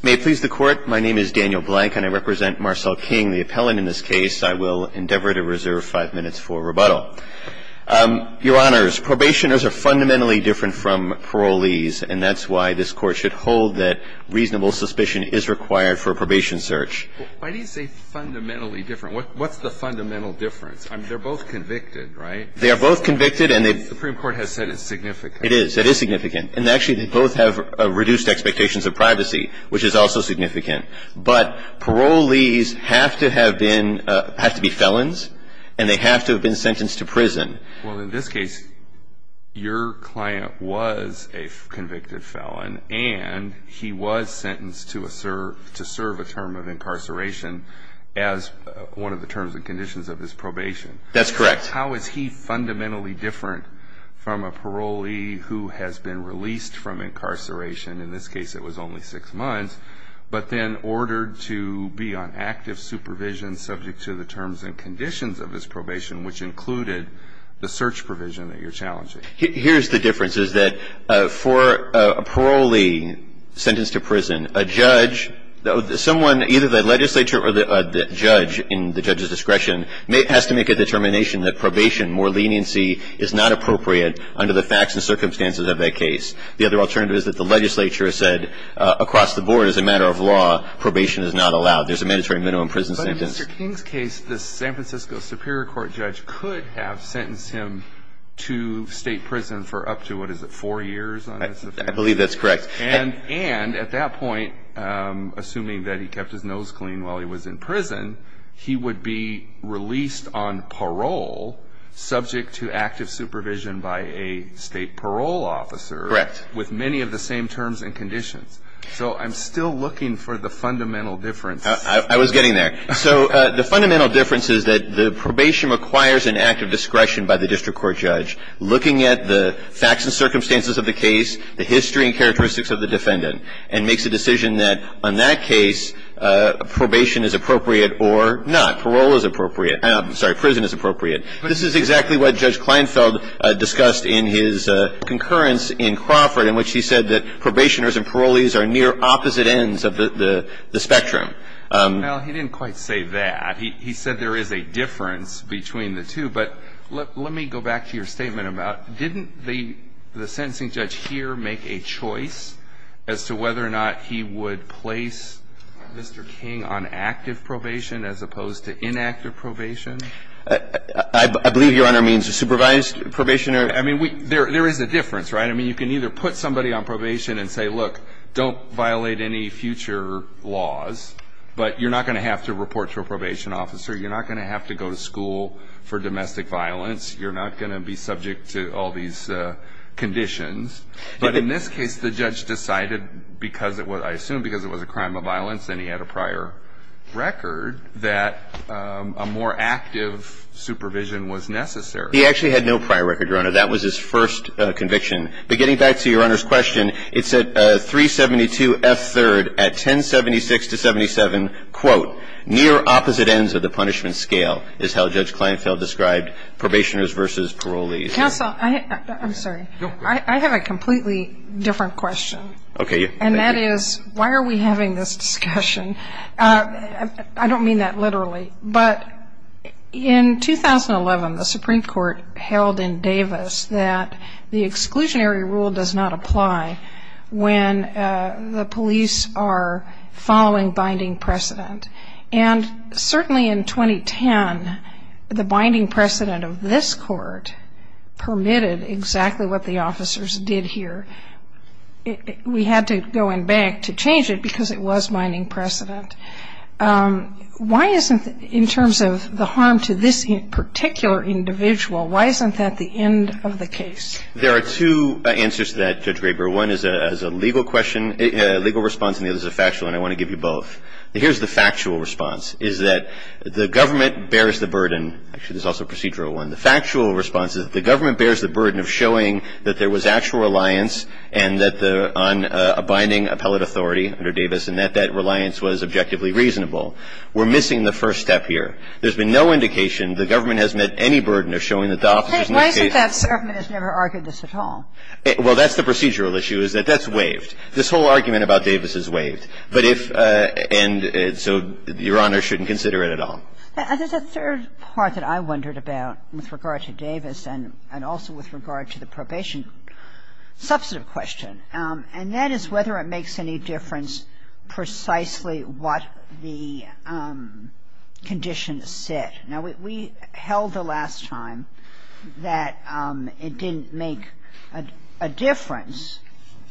May it please the Court, my name is Daniel Blank, and I represent Marcel King, the appellant in this case. I will endeavor to reserve five minutes for rebuttal. Your Honors, probationers are fundamentally different from parolees, and that's why this Court should hold that reasonable suspicion is required for a probation search. Why do you say fundamentally different? What's the fundamental difference? I mean, they're both convicted, right? They are both convicted, and they've The Supreme Court has said it's significant. It is, it is significant, and actually they both have reduced expectations of privacy, which is also significant. But parolees have to have been, have to be felons, and they have to have been sentenced to prison. Well, in this case, your client was a convicted felon, and he was sentenced to serve a term of incarceration as one of the terms and conditions of his probation. That's correct. How is he fundamentally different from a parolee who has been released from incarceration? In this case, it was only six months, but then ordered to be on active supervision subject to the terms and conditions of his probation, which included the search provision that you're challenging. Here's the difference, is that for a parolee sentenced to prison, a judge, someone, either the legislature or the judge in the judge's discretion, has to make a determination that probation, more leniency, is not appropriate under the facts and circumstances of that case. The other alternative is that the legislature has said, across the board, as a matter of law, probation is not allowed. There's a mandatory minimum prison sentence. But in Mr. King's case, the San Francisco Superior Court judge could have sentenced him to state prison for up to, what is it, four years? I believe that's correct. And at that point, assuming that he kept his nose clean while he was in prison, he would be released on parole subject to active supervision by a state parole officer. Correct. With many of the same terms and conditions. So I'm still looking for the fundamental difference. I was getting there. So the fundamental difference is that the probation requires an act of discretion by the district court judge. Looking at the facts and circumstances of the case, the history and characteristics of the defendant, and makes a decision that, on that case, probation is appropriate or not. Parole is appropriate. I'm sorry. Prison is appropriate. This is exactly what Judge Kleinfeld discussed in his concurrence in Crawford, in which he said that probationers and parolees are near opposite ends of the spectrum. Now, he didn't quite say that. He said there is a difference between the two. But let me go back to your statement about, didn't the sentencing judge here make a choice as to whether or not he would place Mr. King on active probation as opposed to inactive probation? I believe, Your Honor, it means supervised probation or... I mean, there is a difference, right? I mean, you can either put somebody on probation and say, look, don't violate any future laws, but you're not going to have to report to a probation officer. You're not going to have to go to school for domestic violence. You're not going to be subject to all these conditions. But in this case, the judge decided because it was, I assume, because it was a crime of violence and he had a prior record, that a more active supervision was necessary. He actually had no prior record, Your Honor. That was his first conviction. But getting back to Your Honor's question, it said 372 F. 3rd at 1076 to 77, quote, near opposite ends of the punishment scale, is how Judge Kleinfeld described probationers versus parolees. Counsel, I'm sorry. I have a completely different question. Okay. And that is, why are we having this discussion? I don't mean that literally. But in 2011, the Supreme Court held in Davis that the exclusionary rule does not apply when the police are following binding precedent. And certainly in 2010, the binding precedent of this court permitted exactly what the officers did here. We had to go in back to change it because it was binding precedent. Why isn't, in terms of the harm to this particular individual, why isn't that the end of the case? There are two answers to that, Judge Graber. One is a legal question, a legal response, and the other is a factual, and I want to give you both. Here's the factual response, is that the government bears the burden. Actually, there's also a procedural one. The factual response is that the government bears the burden of showing that there was actual reliance on a binding appellate authority under Davis, and that that reliance was objectively reasonable. We're missing the first step here. There's been no indication the government has met any burden of showing that the officers in this case… Why isn't that the government has never argued this at all? Well, that's the procedural issue, is that that's waived. This whole argument about Davis is waived. But if — and so Your Honor shouldn't consider it at all. There's a third part that I wondered about with regard to Davis and also with regard to the probation substantive question. And that is whether it makes any difference precisely what the condition said. Now, we held the last time that it didn't make a difference,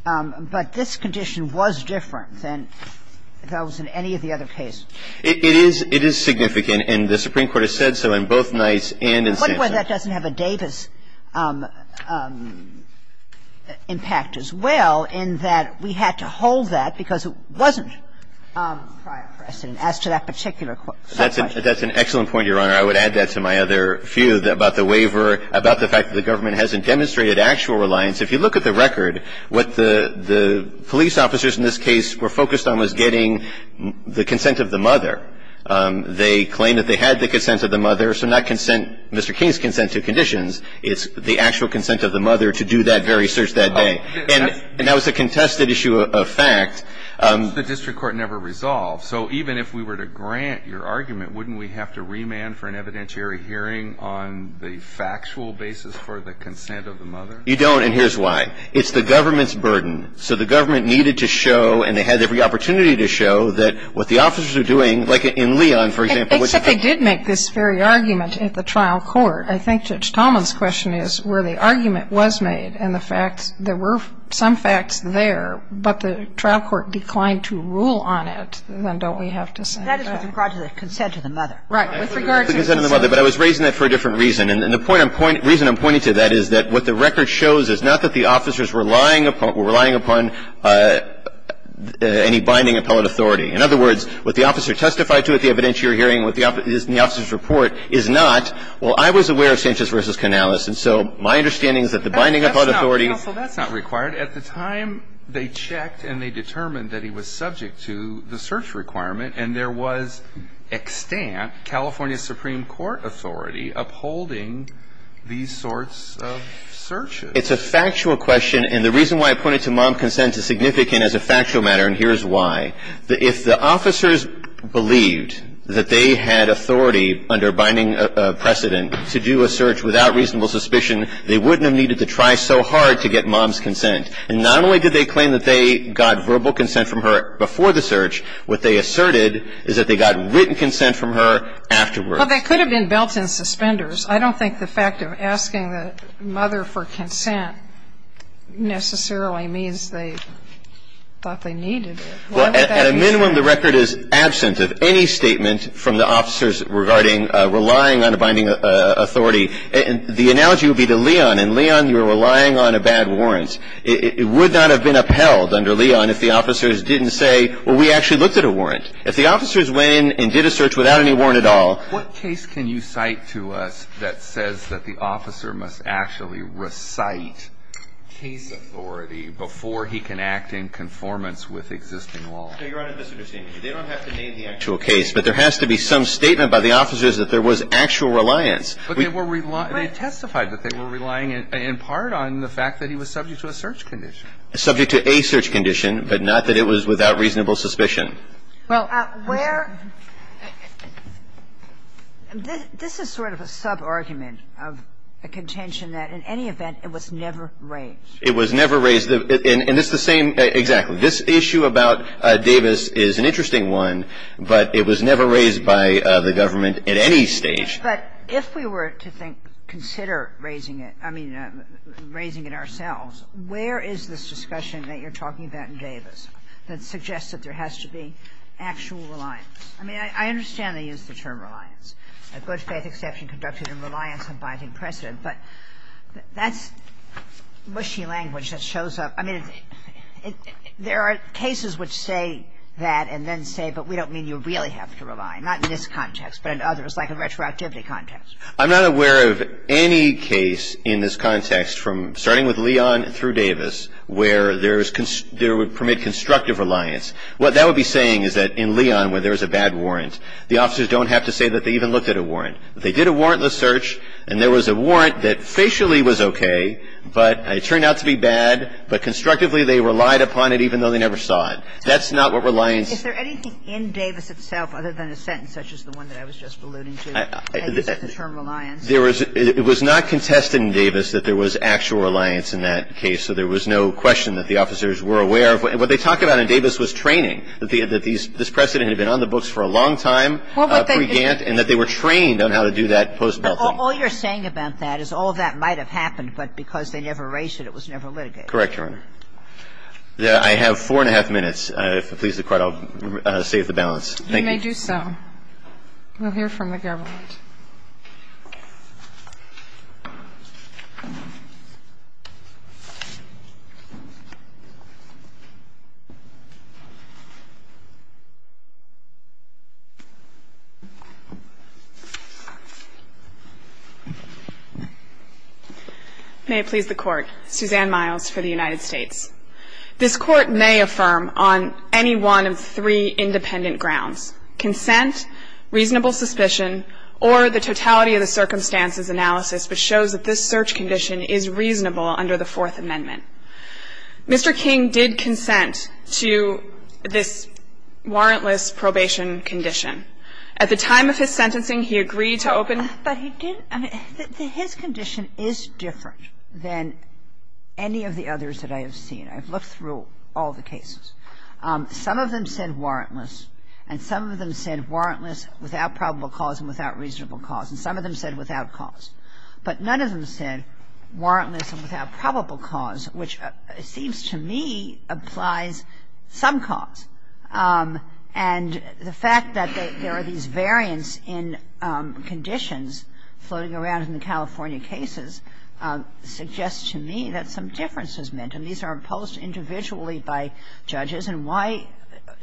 but this condition was different than that was in any of the other cases. It is significant, and the Supreme Court has said so in both nights and in San Francisco. And I wonder why that doesn't have a Davis impact as well, in that we had to hold that because it wasn't prior precedent as to that particular question. That's an excellent point, Your Honor. I would add that to my other view about the waiver, about the fact that the government hasn't demonstrated actual reliance. If you look at the record, what the police officers in this case were focused on was getting the consent of the mother. They claimed that they had the consent of the mother, so not consent — Mr. King's consent to conditions. It's the actual consent of the mother to do that very search that day. And that was a contested issue of fact. The district court never resolved. So even if we were to grant your argument, wouldn't we have to remand for an evidentiary hearing on the factual basis for the consent of the mother? You don't, and here's why. It's the government's burden. So the government needed to show, and they had every opportunity to show, that what the officers were doing, like in Leon, for example, was a fact — Except they did make this very argument at the trial court. I think Judge Talman's question is where the argument was made and the fact there were some facts there, but the trial court declined to rule on it, then don't we have to say that? That is with regard to the consent of the mother. Right. With regard to the consent of the mother. But I was raising that for a different reason. And the reason I'm pointing to that is that what the record shows is not that the officers were relying upon any binding appellate authority. In other words, what the officer testified to at the evidentiary hearing, what the officer's report is not, well, I was aware of Sanchez v. Canales. And so my understanding is that the binding appellate authority — Counsel, that's not required. At the time they checked and they determined that he was subject to the search requirement, and there was extant California Supreme Court authority upholding these sorts of searches. It's a factual question, and the reason why I pointed to mom's consent is significant as a factual matter, and here's why. If the officers believed that they had authority under binding precedent to do a search without reasonable suspicion, they wouldn't have needed to try so hard to get mom's consent. And not only did they claim that they got verbal consent from her before the search. What they asserted is that they got written consent from her afterwards. Well, they could have been belt and suspenders. I don't think the fact of asking the mother for consent necessarily means they thought they needed it. Why would that be? Well, at a minimum, the record is absent of any statement from the officers regarding relying on a binding authority. The analogy would be to Leon, and, Leon, you're relying on a bad warrant. It would not have been upheld under Leon if the officers didn't say, well, we actually looked at a warrant. If the officers went in and did a search without any warrant at all. What case can you cite to us that says that the officer must actually recite case authority before he can act in conformance with existing law? No, Your Honor, they don't have to name the actual case, but there has to be some statement by the officers that there was actual reliance. But they testified that they were relying in part on the fact that he was subject to a search condition. Subject to a search condition, but not that it was without reasonable suspicion. Well, where – this is sort of a sub-argument of a contention that in any event, it was never raised. It was never raised, and it's the same – exactly. This issue about Davis is an interesting one, but it was never raised by the government at any stage. But if we were to think, consider raising it, I mean, raising it ourselves, where is this discussion that you're talking about in Davis that suggests that there has to be actual reliance? I mean, I understand they use the term reliance, a good-faith exception conducted in reliance on binding precedent, but that's mushy language that shows up – I mean, there are cases which say that and then say, but we don't I mean, you really have to rely, not in this context, but in others, like a retroactivity context. I'm not aware of any case in this context from – starting with Leon through Davis, where there is – there would permit constructive reliance. What that would be saying is that in Leon, where there was a bad warrant, the officers don't have to say that they even looked at a warrant. They did a warrantless search, and there was a warrant that facially was okay, but it turned out to be bad. But constructively, they relied upon it even though they never saw it. That's not what reliance – Is there anything in Davis itself, other than a sentence such as the one that I was just alluding to, that uses the term reliance? There was – it was not contested in Davis that there was actual reliance in that case, so there was no question that the officers were aware of. What they talk about in Davis was training, that these – this precedent had been on the books for a long time pre-Gantt, and that they were trained on how to do that post-Belkin. But all you're saying about that is all of that might have happened, but because they never erased it, it was never litigated. Correct, Your Honor. I have four and a half minutes. If it pleases the Court, I'll save the balance. Thank you. You may do so. We'll hear from the government. May it please the Court. автом Kair dlaCoffee, and Susann Miles for the United States. This Court may affirm on any one of three independent grounds, consent, reasonable any of the others that I have seen. I've looked through all the cases. Some of them said warrantless, and some of them said warrantless without probable cause and without reasonable cause, and some of them said without cause. But none of them said warrantless and without probable cause, which seems to me applies some cause. And the fact that there are these variants in conditions floating around in the California cases suggests to me that some difference is meant, and these are imposed individually by judges. And why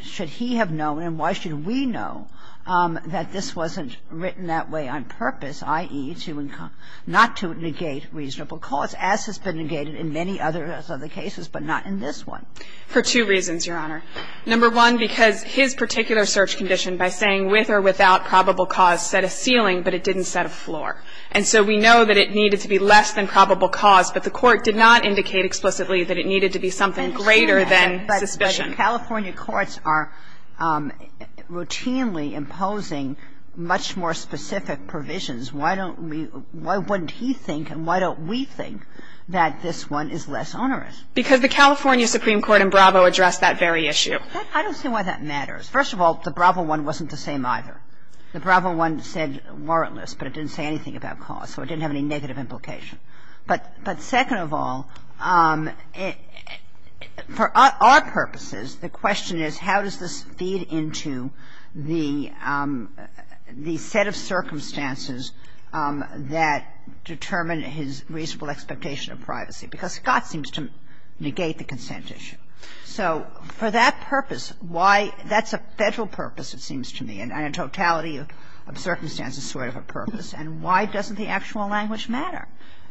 should he have known, and why should we know, that this wasn't written that way on purpose, i.e., not to negate reasonable cause, as has been negated in many other cases, but not in this one? For two reasons, Your Honor. Number one, because his particular search condition by saying with or without probable cause set a ceiling, but it didn't set a floor. And so we know that it needed to be less than probable cause, but the Court did not indicate explicitly that it needed to be something greater than suspicion. But California courts are routinely imposing much more specific provisions. Why don't we – why wouldn't he think and why don't we think that this one is less onerous? Because the California Supreme Court in Bravo addressed that very issue. I don't see why that matters. First of all, the Bravo one wasn't the same either. The Bravo one said warrantless, but it didn't say anything about cause, so it didn't have any negative implication. But second of all, for our purposes, the question is how does this feed into the set of circumstances that determine his reasonable expectation of privacy, because Scott seems to negate the consent issue. So for that purpose, why – that's a Federal purpose, it seems to me. And a totality of circumstances sort of a purpose. And why doesn't the actual language matter?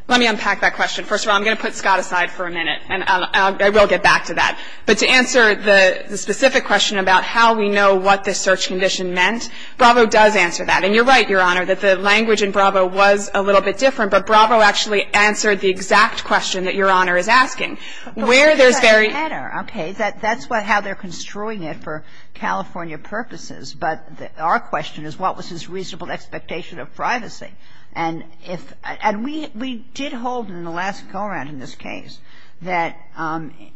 Let me unpack that question. First of all, I'm going to put Scott aside for a minute, and I will get back to that. But to answer the specific question about how we know what this search condition meant, Bravo does answer that. And you're right, Your Honor, that the language in Bravo was a little bit different, but Bravo actually answered the exact question that Your Honor is asking. Where there's very – But why does that matter? Okay. That's how they're construing it for California purposes. But our question is what was his reasonable expectation of privacy? And if – and we did hold in the last go-around in this case that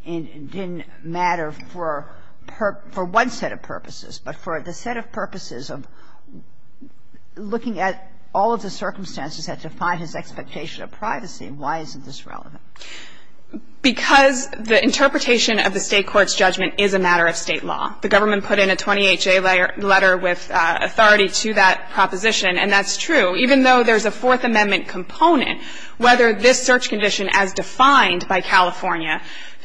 it didn't matter for – for one set of purposes, but for the set of purposes of looking at all of the circumstances that define his expectation of privacy, why isn't this relevant? Because the interpretation of the State court's judgment is a matter of State law. The government put in a 28-J letter with authority to that proposition, and that's true. Even though there's a Fourth Amendment component, whether this search condition as defined by California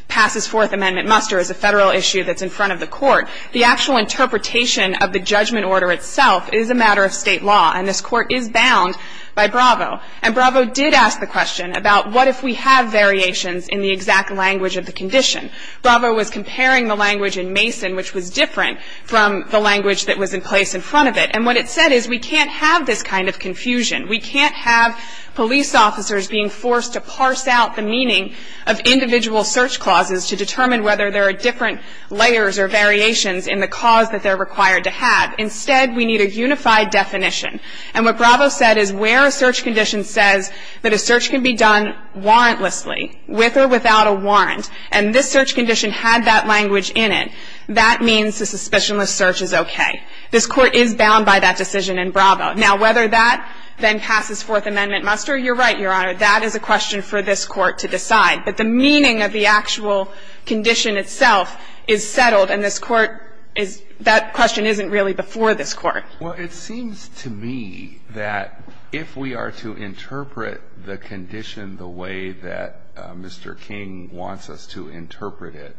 passes Fourth Amendment muster is a Federal issue that's in front of the court. The actual interpretation of the judgment order itself is a matter of State law, and this court is bound by Bravo. And Bravo did ask the question about what if we have variations in the exact language of the condition. Bravo was comparing the language in Mason, which was different from the language that was in place in front of it. And what it said is we can't have this kind of confusion. We can't have police officers being forced to parse out the meaning of individual search clauses to determine whether there are different layers or variations in the cause that they're required to have. Instead, we need a unified definition. And what Bravo said is where a search condition says that a search can be done warrantlessly, with or without a warrant. And this search condition had that language in it. That means the suspicionless search is okay. This court is bound by that decision in Bravo. Now, whether that then passes Fourth Amendment muster, you're right, Your Honor, that is a question for this court to decide. But the meaning of the actual condition itself is settled, and this court is, that question isn't really before this court. Well, it seems to me that if we are to interpret the condition the way that Mr. King wants us to interpret it,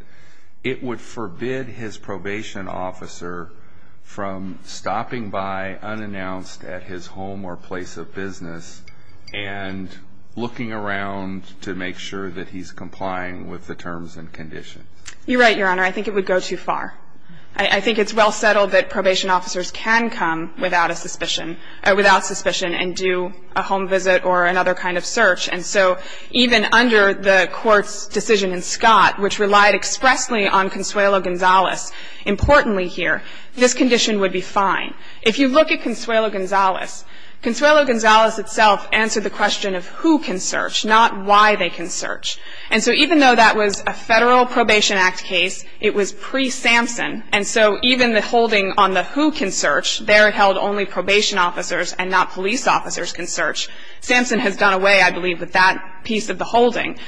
it would forbid his probation officer from stopping by unannounced at his home or place of business and looking around to make sure that he's complying with the terms and conditions. You're right, Your Honor. I think it would go too far. I think it's well settled that probation officers can come without a suspicion, without suspicion, and do a home visit or another kind of search. And so even under the court's decision in Scott, which relied expressly on Consuelo Gonzalez, importantly here, this condition would be fine. If you look at Consuelo Gonzalez, Consuelo Gonzalez itself answered the question of who can search, not why they can search. And so even though that was a Federal Probation Act case, it was pre-Sampson. And so even the holding on the who can search, there held only probation officers and not police officers can search. Sampson has done away, I believe, with that piece of the holding.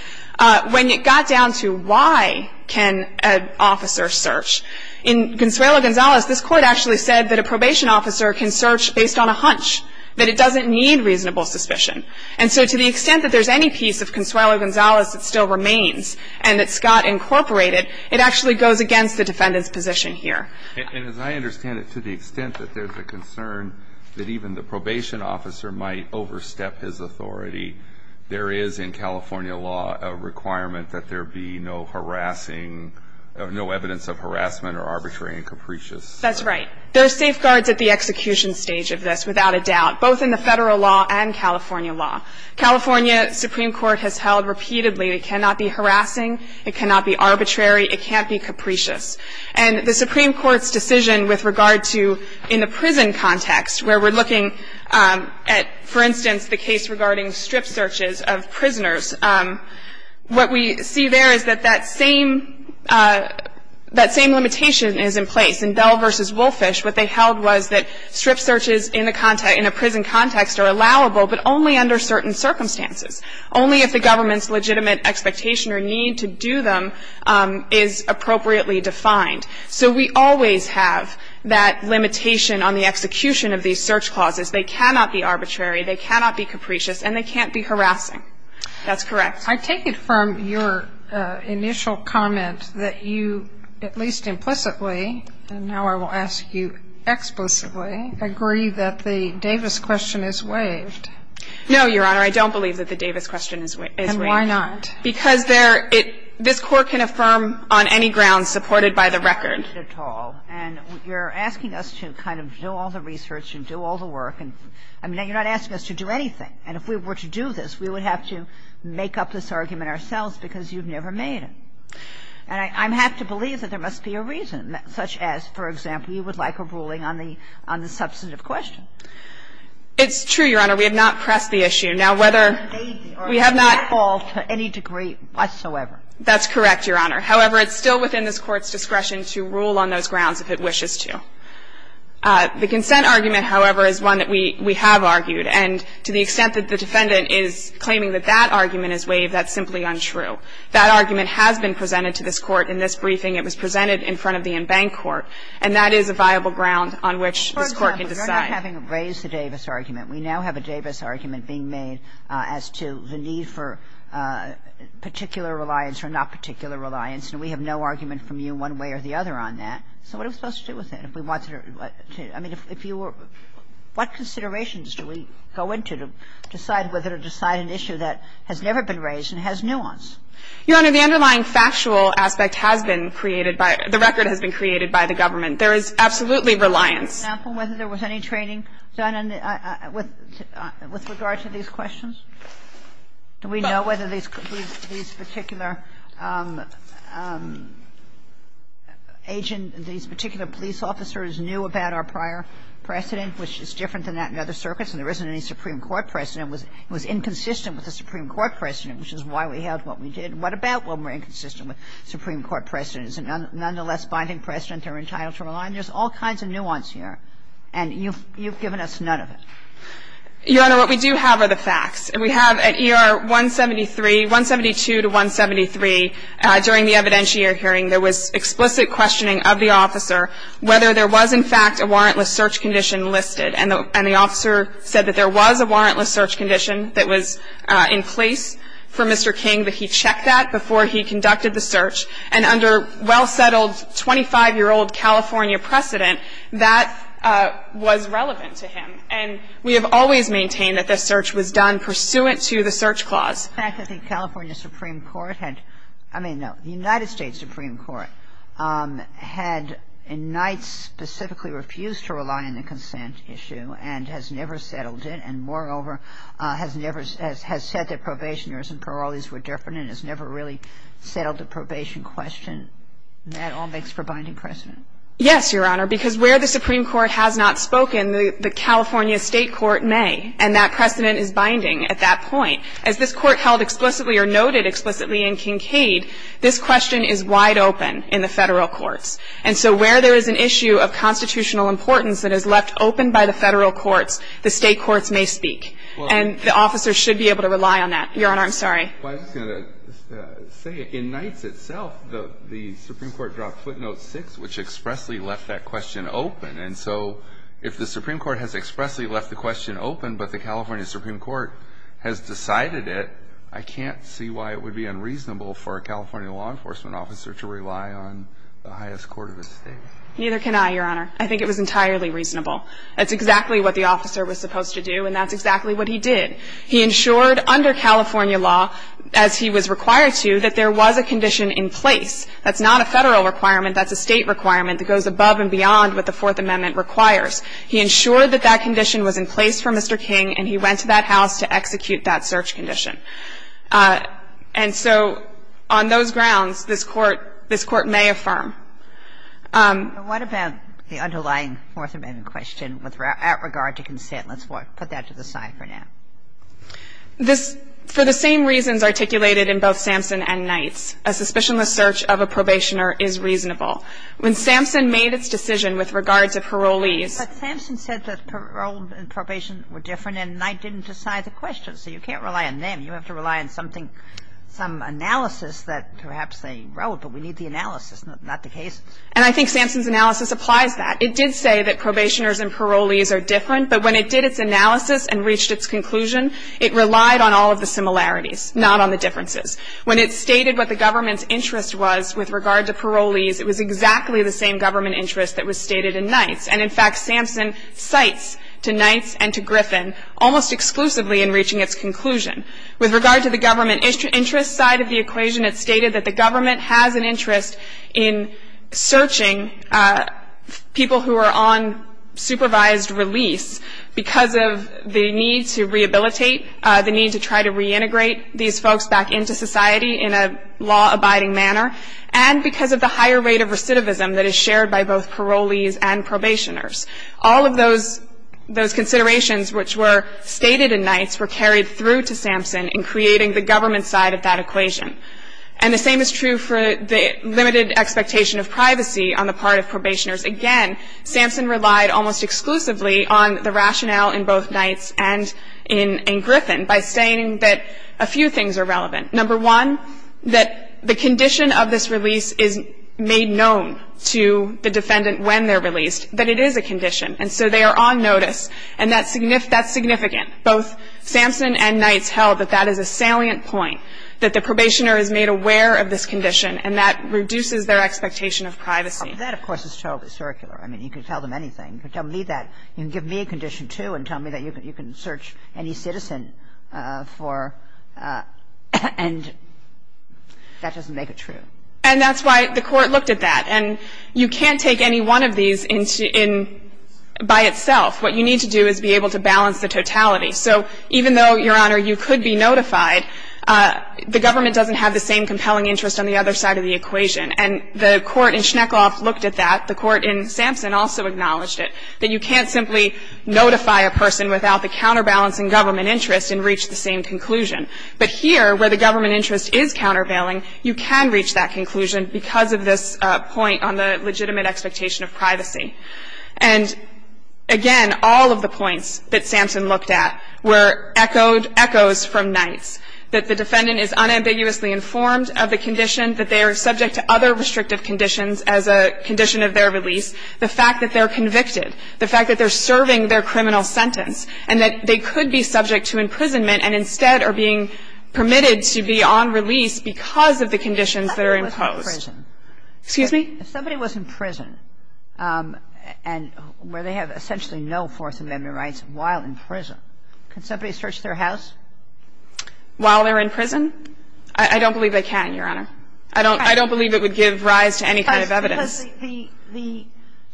When it got down to why can an officer search? In Consuelo Gonzalez, this court actually said that a probation officer can search based on a hunch, that it doesn't need reasonable suspicion. And so to the extent that there's any piece of Consuelo Gonzalez that still remains and that Scott incorporated, it actually goes against the defendant's position here. And as I understand it, to the extent that there's a concern that even the probation officer might overstep his authority, there is in California law a requirement that there be no evidence of harassment or arbitrary and capricious. That's right. There's safeguards at the execution stage of this, without a doubt, both in the Federal law and California law. California Supreme Court has held repeatedly, it cannot be harassing, it cannot be arbitrary, it can't be capricious. And the Supreme Court's decision with regard to, in the prison context, where we're looking at, for instance, the case regarding strip searches of prisoners, what we see there is that that same limitation is in place. In Bell v. Wolfish, what they held was that strip searches in a prison context are allowable, but only under certain circumstances. Only if the government's legitimate expectation or need to do them is appropriately defined. So we always have that limitation on the execution of these search clauses. They cannot be arbitrary, they cannot be capricious, and they can't be harassing. That's correct. I take it from your initial comment that you, at least implicitly, and now I will ask you explicitly, agree that the Davis question is waived. No, Your Honor, I don't believe that the Davis question is waived. And why not? Because there – this Court can affirm on any grounds supported by the record. And you're asking us to kind of do all the research and do all the work. I mean, you're not asking us to do anything. And if we were to do this, we would have to make up this argument ourselves because you've never made it. And I have to believe that there must be a reason, such as, for example, you would like a ruling on the substantive question. It's true, Your Honor. We have not pressed the issue. Now, whether we have not – It would not fall to any degree whatsoever. That's correct, Your Honor. However, it's still within this Court's discretion to rule on those grounds if it wishes to. The consent argument, however, is one that we have argued. And to the extent that the defendant is claiming that that argument is waived, that's simply untrue. That argument has been presented to this Court in this briefing. It was presented in front of the en banc court, and that is a viable ground on which this Court can decide. For example, you're not having to raise the Davis argument. We now have a Davis argument being made as to the need for particular reliance or not particular reliance, and we have no argument from you one way or the other on that. So what are we supposed to do with that if we want to – I mean, if you were – what considerations do we go into to decide whether to decide an issue that has never been raised and has nuance? Your Honor, the underlying factual aspect has been created by – the record has been created by the government. There is absolutely reliance. I can't get a clear example of whether there was any training done on the – with regard to these questions. Do we know whether these particular agent – these particular police officers knew about our prior precedent, which is different than that in other circuits and there isn't any Supreme Court precedent. It was inconsistent with the Supreme Court precedent, which is why we held what we did. And you've given us none of it. Your Honor, what we do have are the facts. We have at ER 173 – 172 to 173, during the evidentiary hearing, there was explicit questioning of the officer whether there was in fact a warrantless search condition listed. And the officer said that there was a warrantless search condition that was in place for Mr. King, but he checked that before he conducted the search. And under well-settled 25-year-old California precedent, that was relevant to him. And we have always maintained that this search was done pursuant to the search clause. The fact is the California Supreme Court had – I mean, no, the United States Supreme Court had in Knight specifically refused to rely on the consent issue and has never settled it, and moreover, has never – has said that probation was not a warrantless search condition, and that all makes for binding precedent. Yes, Your Honor, because where the Supreme Court has not spoken, the California State court may, and that precedent is binding at that point. As this Court held explicitly or noted explicitly in Kincaid, this question is wide open in the Federal courts. And so where there is an issue of constitutional importance that is left open by the Federal courts, the State courts may speak. And the officer should be able to rely on that. Your Honor, I'm sorry. I was going to say, in Knight's itself, the Supreme Court dropped footnote 6, which expressly left that question open. And so if the Supreme Court has expressly left the question open, but the California Supreme Court has decided it, I can't see why it would be unreasonable for a California law enforcement officer to rely on the highest court of the State. Neither can I, Your Honor. I think it was entirely reasonable. That's exactly what the officer was supposed to do, and that's exactly what he did. He ensured under California law, as he was required to, that there was a condition in place. That's not a Federal requirement. That's a State requirement that goes above and beyond what the Fourth Amendment requires. He ensured that that condition was in place for Mr. King, and he went to that house to execute that search condition. And so on those grounds, this Court may affirm. Ginsburg, what about the underlying Fourth Amendment question with regard to consent? Let's put that to the side for now. This, for the same reasons articulated in both Sampson and Knight's, a suspicionless search of a probationer is reasonable. When Sampson made its decision with regard to parolees ---- But Sampson said that parole and probation were different, and Knight didn't decide the question. So you can't rely on them. You have to rely on something, some analysis that perhaps they wrote, but we need the analysis, not the case. And I think Sampson's analysis applies that. It did say that probationers and parolees are different, but when it did its analysis and reached its conclusion, it relied on all of the similarities, not on the differences. When it stated what the government's interest was with regard to parolees, it was exactly the same government interest that was stated in Knight's. And in fact, Sampson cites to Knight's and to Griffin almost exclusively in reaching its conclusion. With regard to the government interest side of the equation, it stated that the government has an interest in searching people who are on supervised release because of the need to rehabilitate, the need to try to reintegrate these folks back into society in a law-abiding manner, and because of the higher rate of recidivism that is shared by both parolees and probationers. All of those considerations which were stated in Knight's were carried through to Sampson in creating the government side of that equation. And the same is true for the limited expectation of privacy on the part of probationers. Again, Sampson relied almost exclusively on the rationale in both Knight's and in Griffin by stating that a few things are relevant. Number one, that the condition of this release is made known to the defendant when they're released, that it is a condition, and so they are on notice, and that's significant. Both Sampson and Knight's held that that is a salient point, that the probationer is made aware of this condition, and that reduces their expectation of privacy. And that, of course, is totally circular. I mean, you can tell them anything. You can tell me that. You can give me a condition, too, and tell me that you can search any citizen for, and that doesn't make it true. And that's why the Court looked at that. And you can't take any one of these by itself. What you need to do is be able to balance the totality. So even though, Your Honor, you could be notified, the government doesn't have the same compelling interest on the other side of the equation. And the Court in Schneckhoff looked at that. The Court in Sampson also acknowledged it, that you can't simply notify a person without the counterbalance in government interest and reach the same conclusion. But here, where the government interest is countervailing, you can reach that conclusion because of this point on the legitimate expectation of privacy. And, again, all of the points that Sampson looked at were echoes from Knight's, that the defendant is unambiguously informed of the condition, that they are subject to other restrictive conditions as a condition of their release, the fact that they're convicted, the fact that they're serving their criminal sentence, and that they could be subject to imprisonment and instead are being permitted to be on release because of the conditions that are imposed. Sotomayor, if somebody was in prison, and where they have essentially no Fourth Amendment rights while in prison, can somebody search their house? While they're in prison? I don't believe they can, Your Honor. I don't believe it would give rise to any kind of evidence. Because the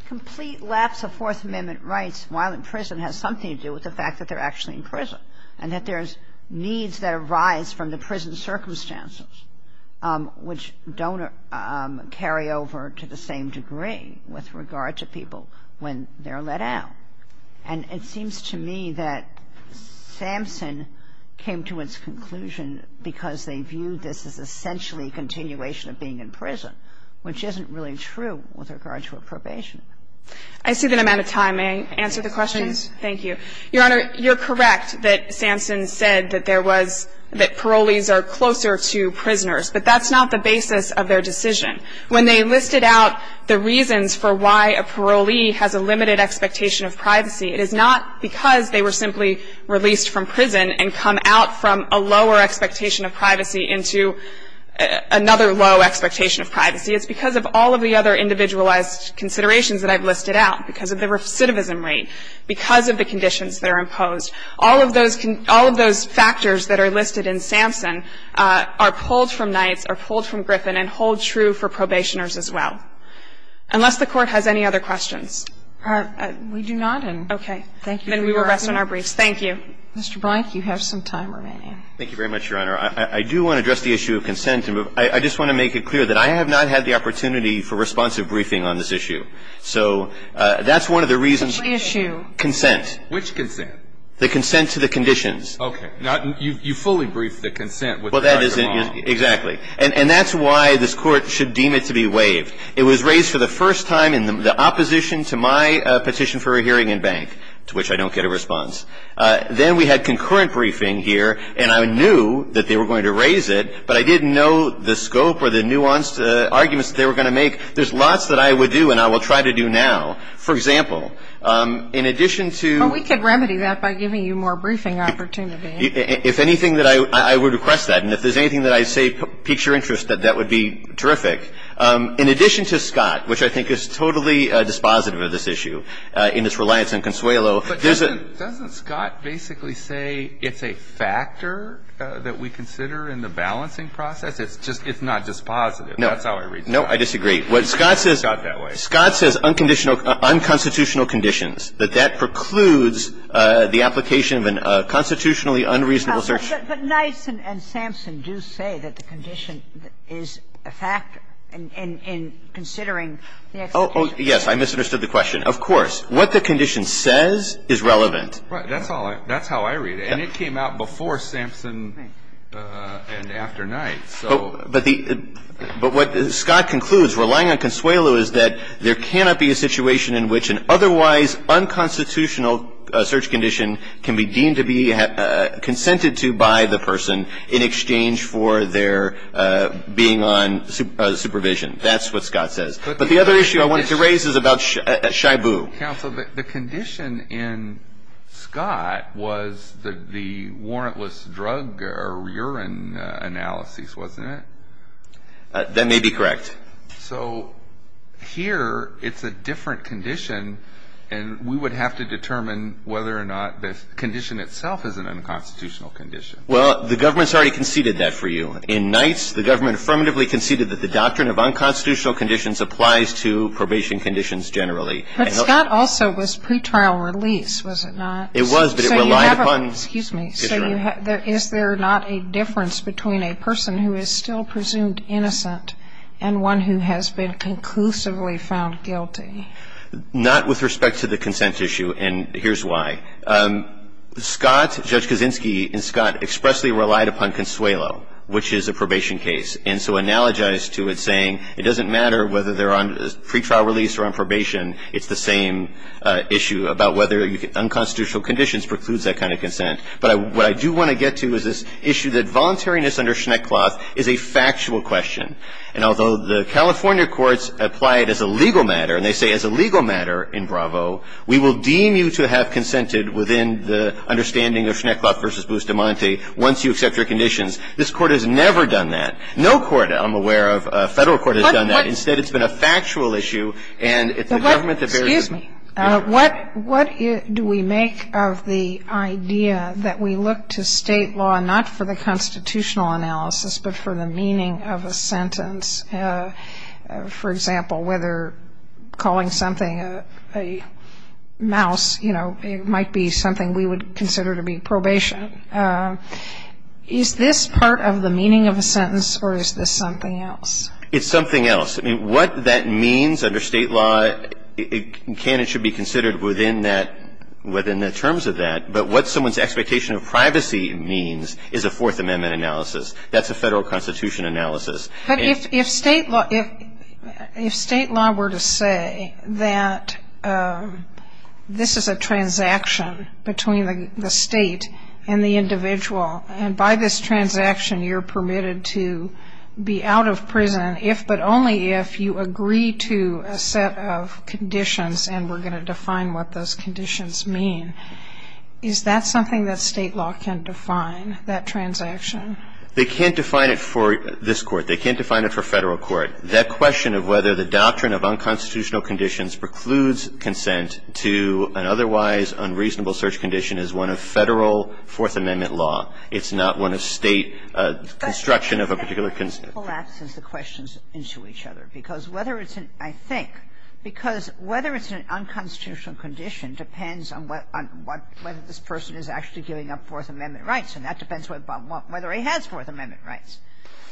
complete lapse of Fourth Amendment rights while in prison has something to do with the fact that they're actually in prison and that there's needs that arise from the prison circumstances, which don't carry over to the same degree with regard to people when they're let out. And it seems to me that Sampson came to its conclusion because they viewed this as essentially a continuation of being in prison, which isn't really true with regard to a probation. I see that I'm out of time. May I answer the questions? Please. Thank you. Your Honor, you're correct that Sampson said that there was – that parole was not the basis of their decision. When they listed out the reasons for why a parolee has a limited expectation of privacy, it is not because they were simply released from prison and come out from a lower expectation of privacy into another low expectation of privacy. It's because of all of the other individualized considerations that I've listed out, because of the recidivism rate, because of the conditions that are imposed. All of those factors that are listed in Sampson are pulled from Knights, are pulled from Griffin, and hold true for probationers as well. Unless the Court has any other questions. We do not. Okay. Then we will rest on our briefs. Thank you. Mr. Blank, you have some time remaining. Thank you very much, Your Honor. I do want to address the issue of consent. I just want to make it clear that I have not had the opportunity for responsive briefing on this issue. So that's one of the reasons – Which issue? Consent. Which consent? The consent to the conditions. Okay. Now, you fully briefed the consent with the right or wrong. Exactly. And that's why this Court should deem it to be waived. It was raised for the first time in the opposition to my petition for a hearing in Bank, to which I don't get a response. Then we had concurrent briefing here, and I knew that they were going to raise it, but I didn't know the scope or the nuanced arguments that they were going to make. There's lots that I would do and I will try to do now. For example, in addition to – Well, we could remedy that by giving you more briefing opportunity. If anything, I would request that. And if there's anything that I say piques your interest, that would be terrific. In addition to Scott, which I think is totally dispositive of this issue in its reliance on Consuelo – But doesn't Scott basically say it's a factor that we consider in the balancing process? It's not dispositive. No. That's how I read it. No, I disagree. Scott says – It's not that way. It's that we are relying on the conditions, that that precludes the application of a constitutionally unreasonable search. But Knight and Sampson do say that the condition is a factor in considering the execution. Yes. I misunderstood the question. Of course. What the condition says is relevant. That's how I read it. And it came out before Sampson and after Knight. But what Scott concludes, relying on Consuelo, is that there cannot be a situation in which an otherwise unconstitutional search condition can be deemed to be consented to by the person in exchange for their being on supervision. That's what Scott says. But the other issue I wanted to raise is about Shibu. Counsel, the condition in Scott was the warrantless drug or urine analysis, wasn't it? That may be correct. So here it's a different condition, and we would have to determine whether or not the condition itself is an unconstitutional condition. Well, the government's already conceded that for you. In Knight's, the government affirmatively conceded that the doctrine of unconstitutional conditions applies to probation conditions generally. But Scott also was pretrial release, was it not? It was, but it relied upon. Excuse me. Is there not a difference between a person who is still presumed innocent and one who has been conclusively found guilty? Not with respect to the consent issue, and here's why. Scott, Judge Kaczynski and Scott, expressly relied upon Consuelo, which is a probation case. And so analogized to it saying it doesn't matter whether they're on pretrial release or on probation, it's the same issue about whether unconstitutional conditions precludes that kind of consent. But what I do want to get to is this issue that voluntariness under Schneckloth is a factual question. And although the California courts apply it as a legal matter, and they say it's a legal matter in Bravo, we will deem you to have consented within the understanding of Schneckloth v. Bustamante once you accept your conditions. This Court has never done that. No court I'm aware of, Federal Court, has done that. Instead, it's been a factual issue, and it's the government that bears it. Excuse me. What do we make of the idea that we look to state law not for the constitutional analysis, but for the meaning of a sentence? For example, whether calling something a mouse, you know, it might be something we would consider to be probation. Is this part of the meaning of a sentence, or is this something else? It's something else. I mean, what that means under state law, it can and should be considered within the terms of that. But what someone's expectation of privacy means is a Fourth Amendment analysis. That's a Federal Constitution analysis. But if state law were to say that this is a transaction between the state and the individual, and by this transaction you're permitted to be out of prison if but only if you agree to a set of conditions and we're going to define what those conditions mean, is that something that state law can't define, that transaction? They can't define it for this Court. They can't define it for Federal Court. That question of whether the doctrine of unconstitutional conditions precludes consent to an otherwise unreasonable search condition is one of Federal Fourth Amendment law. It's not one of state construction of a particular consent. And it collapses the questions into each other, because whether it's an unconstitutional condition depends on whether this person is actually giving up Fourth Amendment rights, and that depends whether he has Fourth Amendment rights.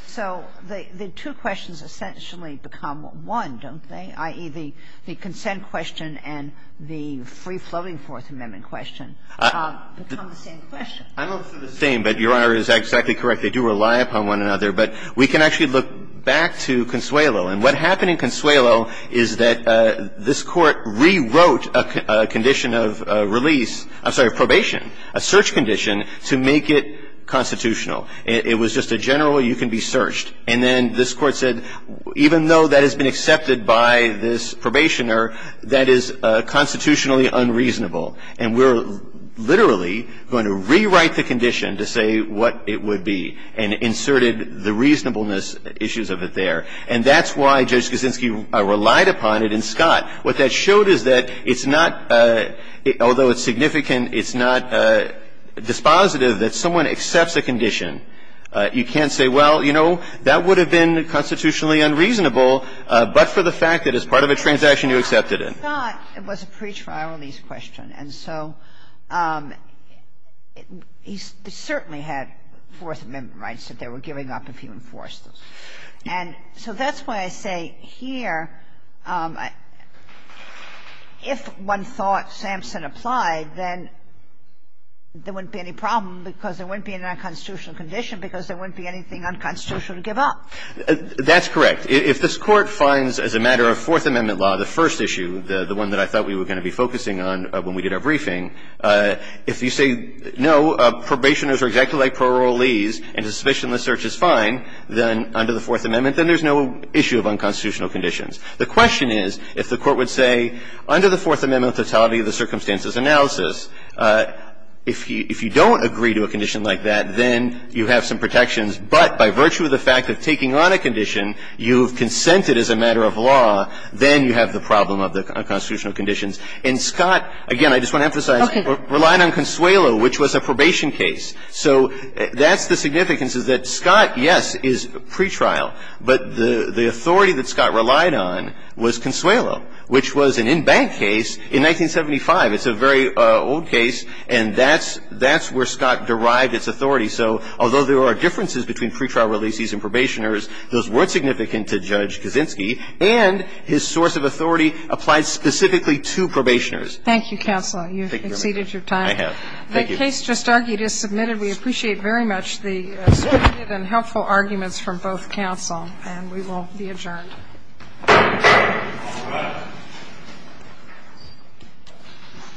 So the two questions essentially become one, don't they? I.e., the consent question and the free-floating Fourth Amendment question become the same question. I don't think they're the same, but Your Honor is exactly correct. They do rely upon one another. But we can actually look back to Consuelo. And what happened in Consuelo is that this Court rewrote a condition of release I'm sorry, probation, a search condition to make it constitutional. It was just a general you can be searched. And then this Court said even though that has been accepted by this probationer, that is constitutionally unreasonable. And we're literally going to rewrite the condition to say what it would be and inserted the reasonableness issues of it there. And that's why Judge Kuczynski relied upon it in Scott. What that showed is that it's not, although it's significant, it's not dispositive that someone accepts a condition. You can't say, well, you know, that would have been constitutionally unreasonable, but for the fact that it's part of a transaction you accepted it. I thought it was a pretrial release question. And so he certainly had Fourth Amendment rights that they were giving up if he enforced those. And so that's why I say here if one thought Sampson applied, then there wouldn't be any problem because there wouldn't be an unconstitutional condition because there wouldn't be anything unconstitutional to give up. That's correct. If this Court finds as a matter of Fourth Amendment law, the first issue, the one that I thought we were going to be focusing on when we did our briefing, if you say no, probationers are exactly like parolees and suspicionless search is fine, then under the Fourth Amendment, then there's no issue of unconstitutional conditions. The question is if the Court would say under the Fourth Amendment totality of the circumstances analysis, if you don't agree to a condition like that, then you have some protections, but by virtue of the fact of taking on a condition, you've consented as a matter of law, then you have the problem of the unconstitutional conditions. And Scott, again, I just want to emphasize, relied on Consuelo, which was a probation case. So that's the significance is that Scott, yes, is pretrial, but the authority that Scott relied on was Consuelo, which was an in-bank case in 1975. It's a very old case, and that's where Scott derived its authority. So although there are differences between pretrial releases and probationers, those weren't significant to Judge Kaczynski, and his source of authority applies specifically to probationers. Thank you, counsel. You've exceeded your time. I have. Thank you. The case just argued is submitted. We appreciate very much the speculative and helpful arguments from both counsel, and we will be adjourned.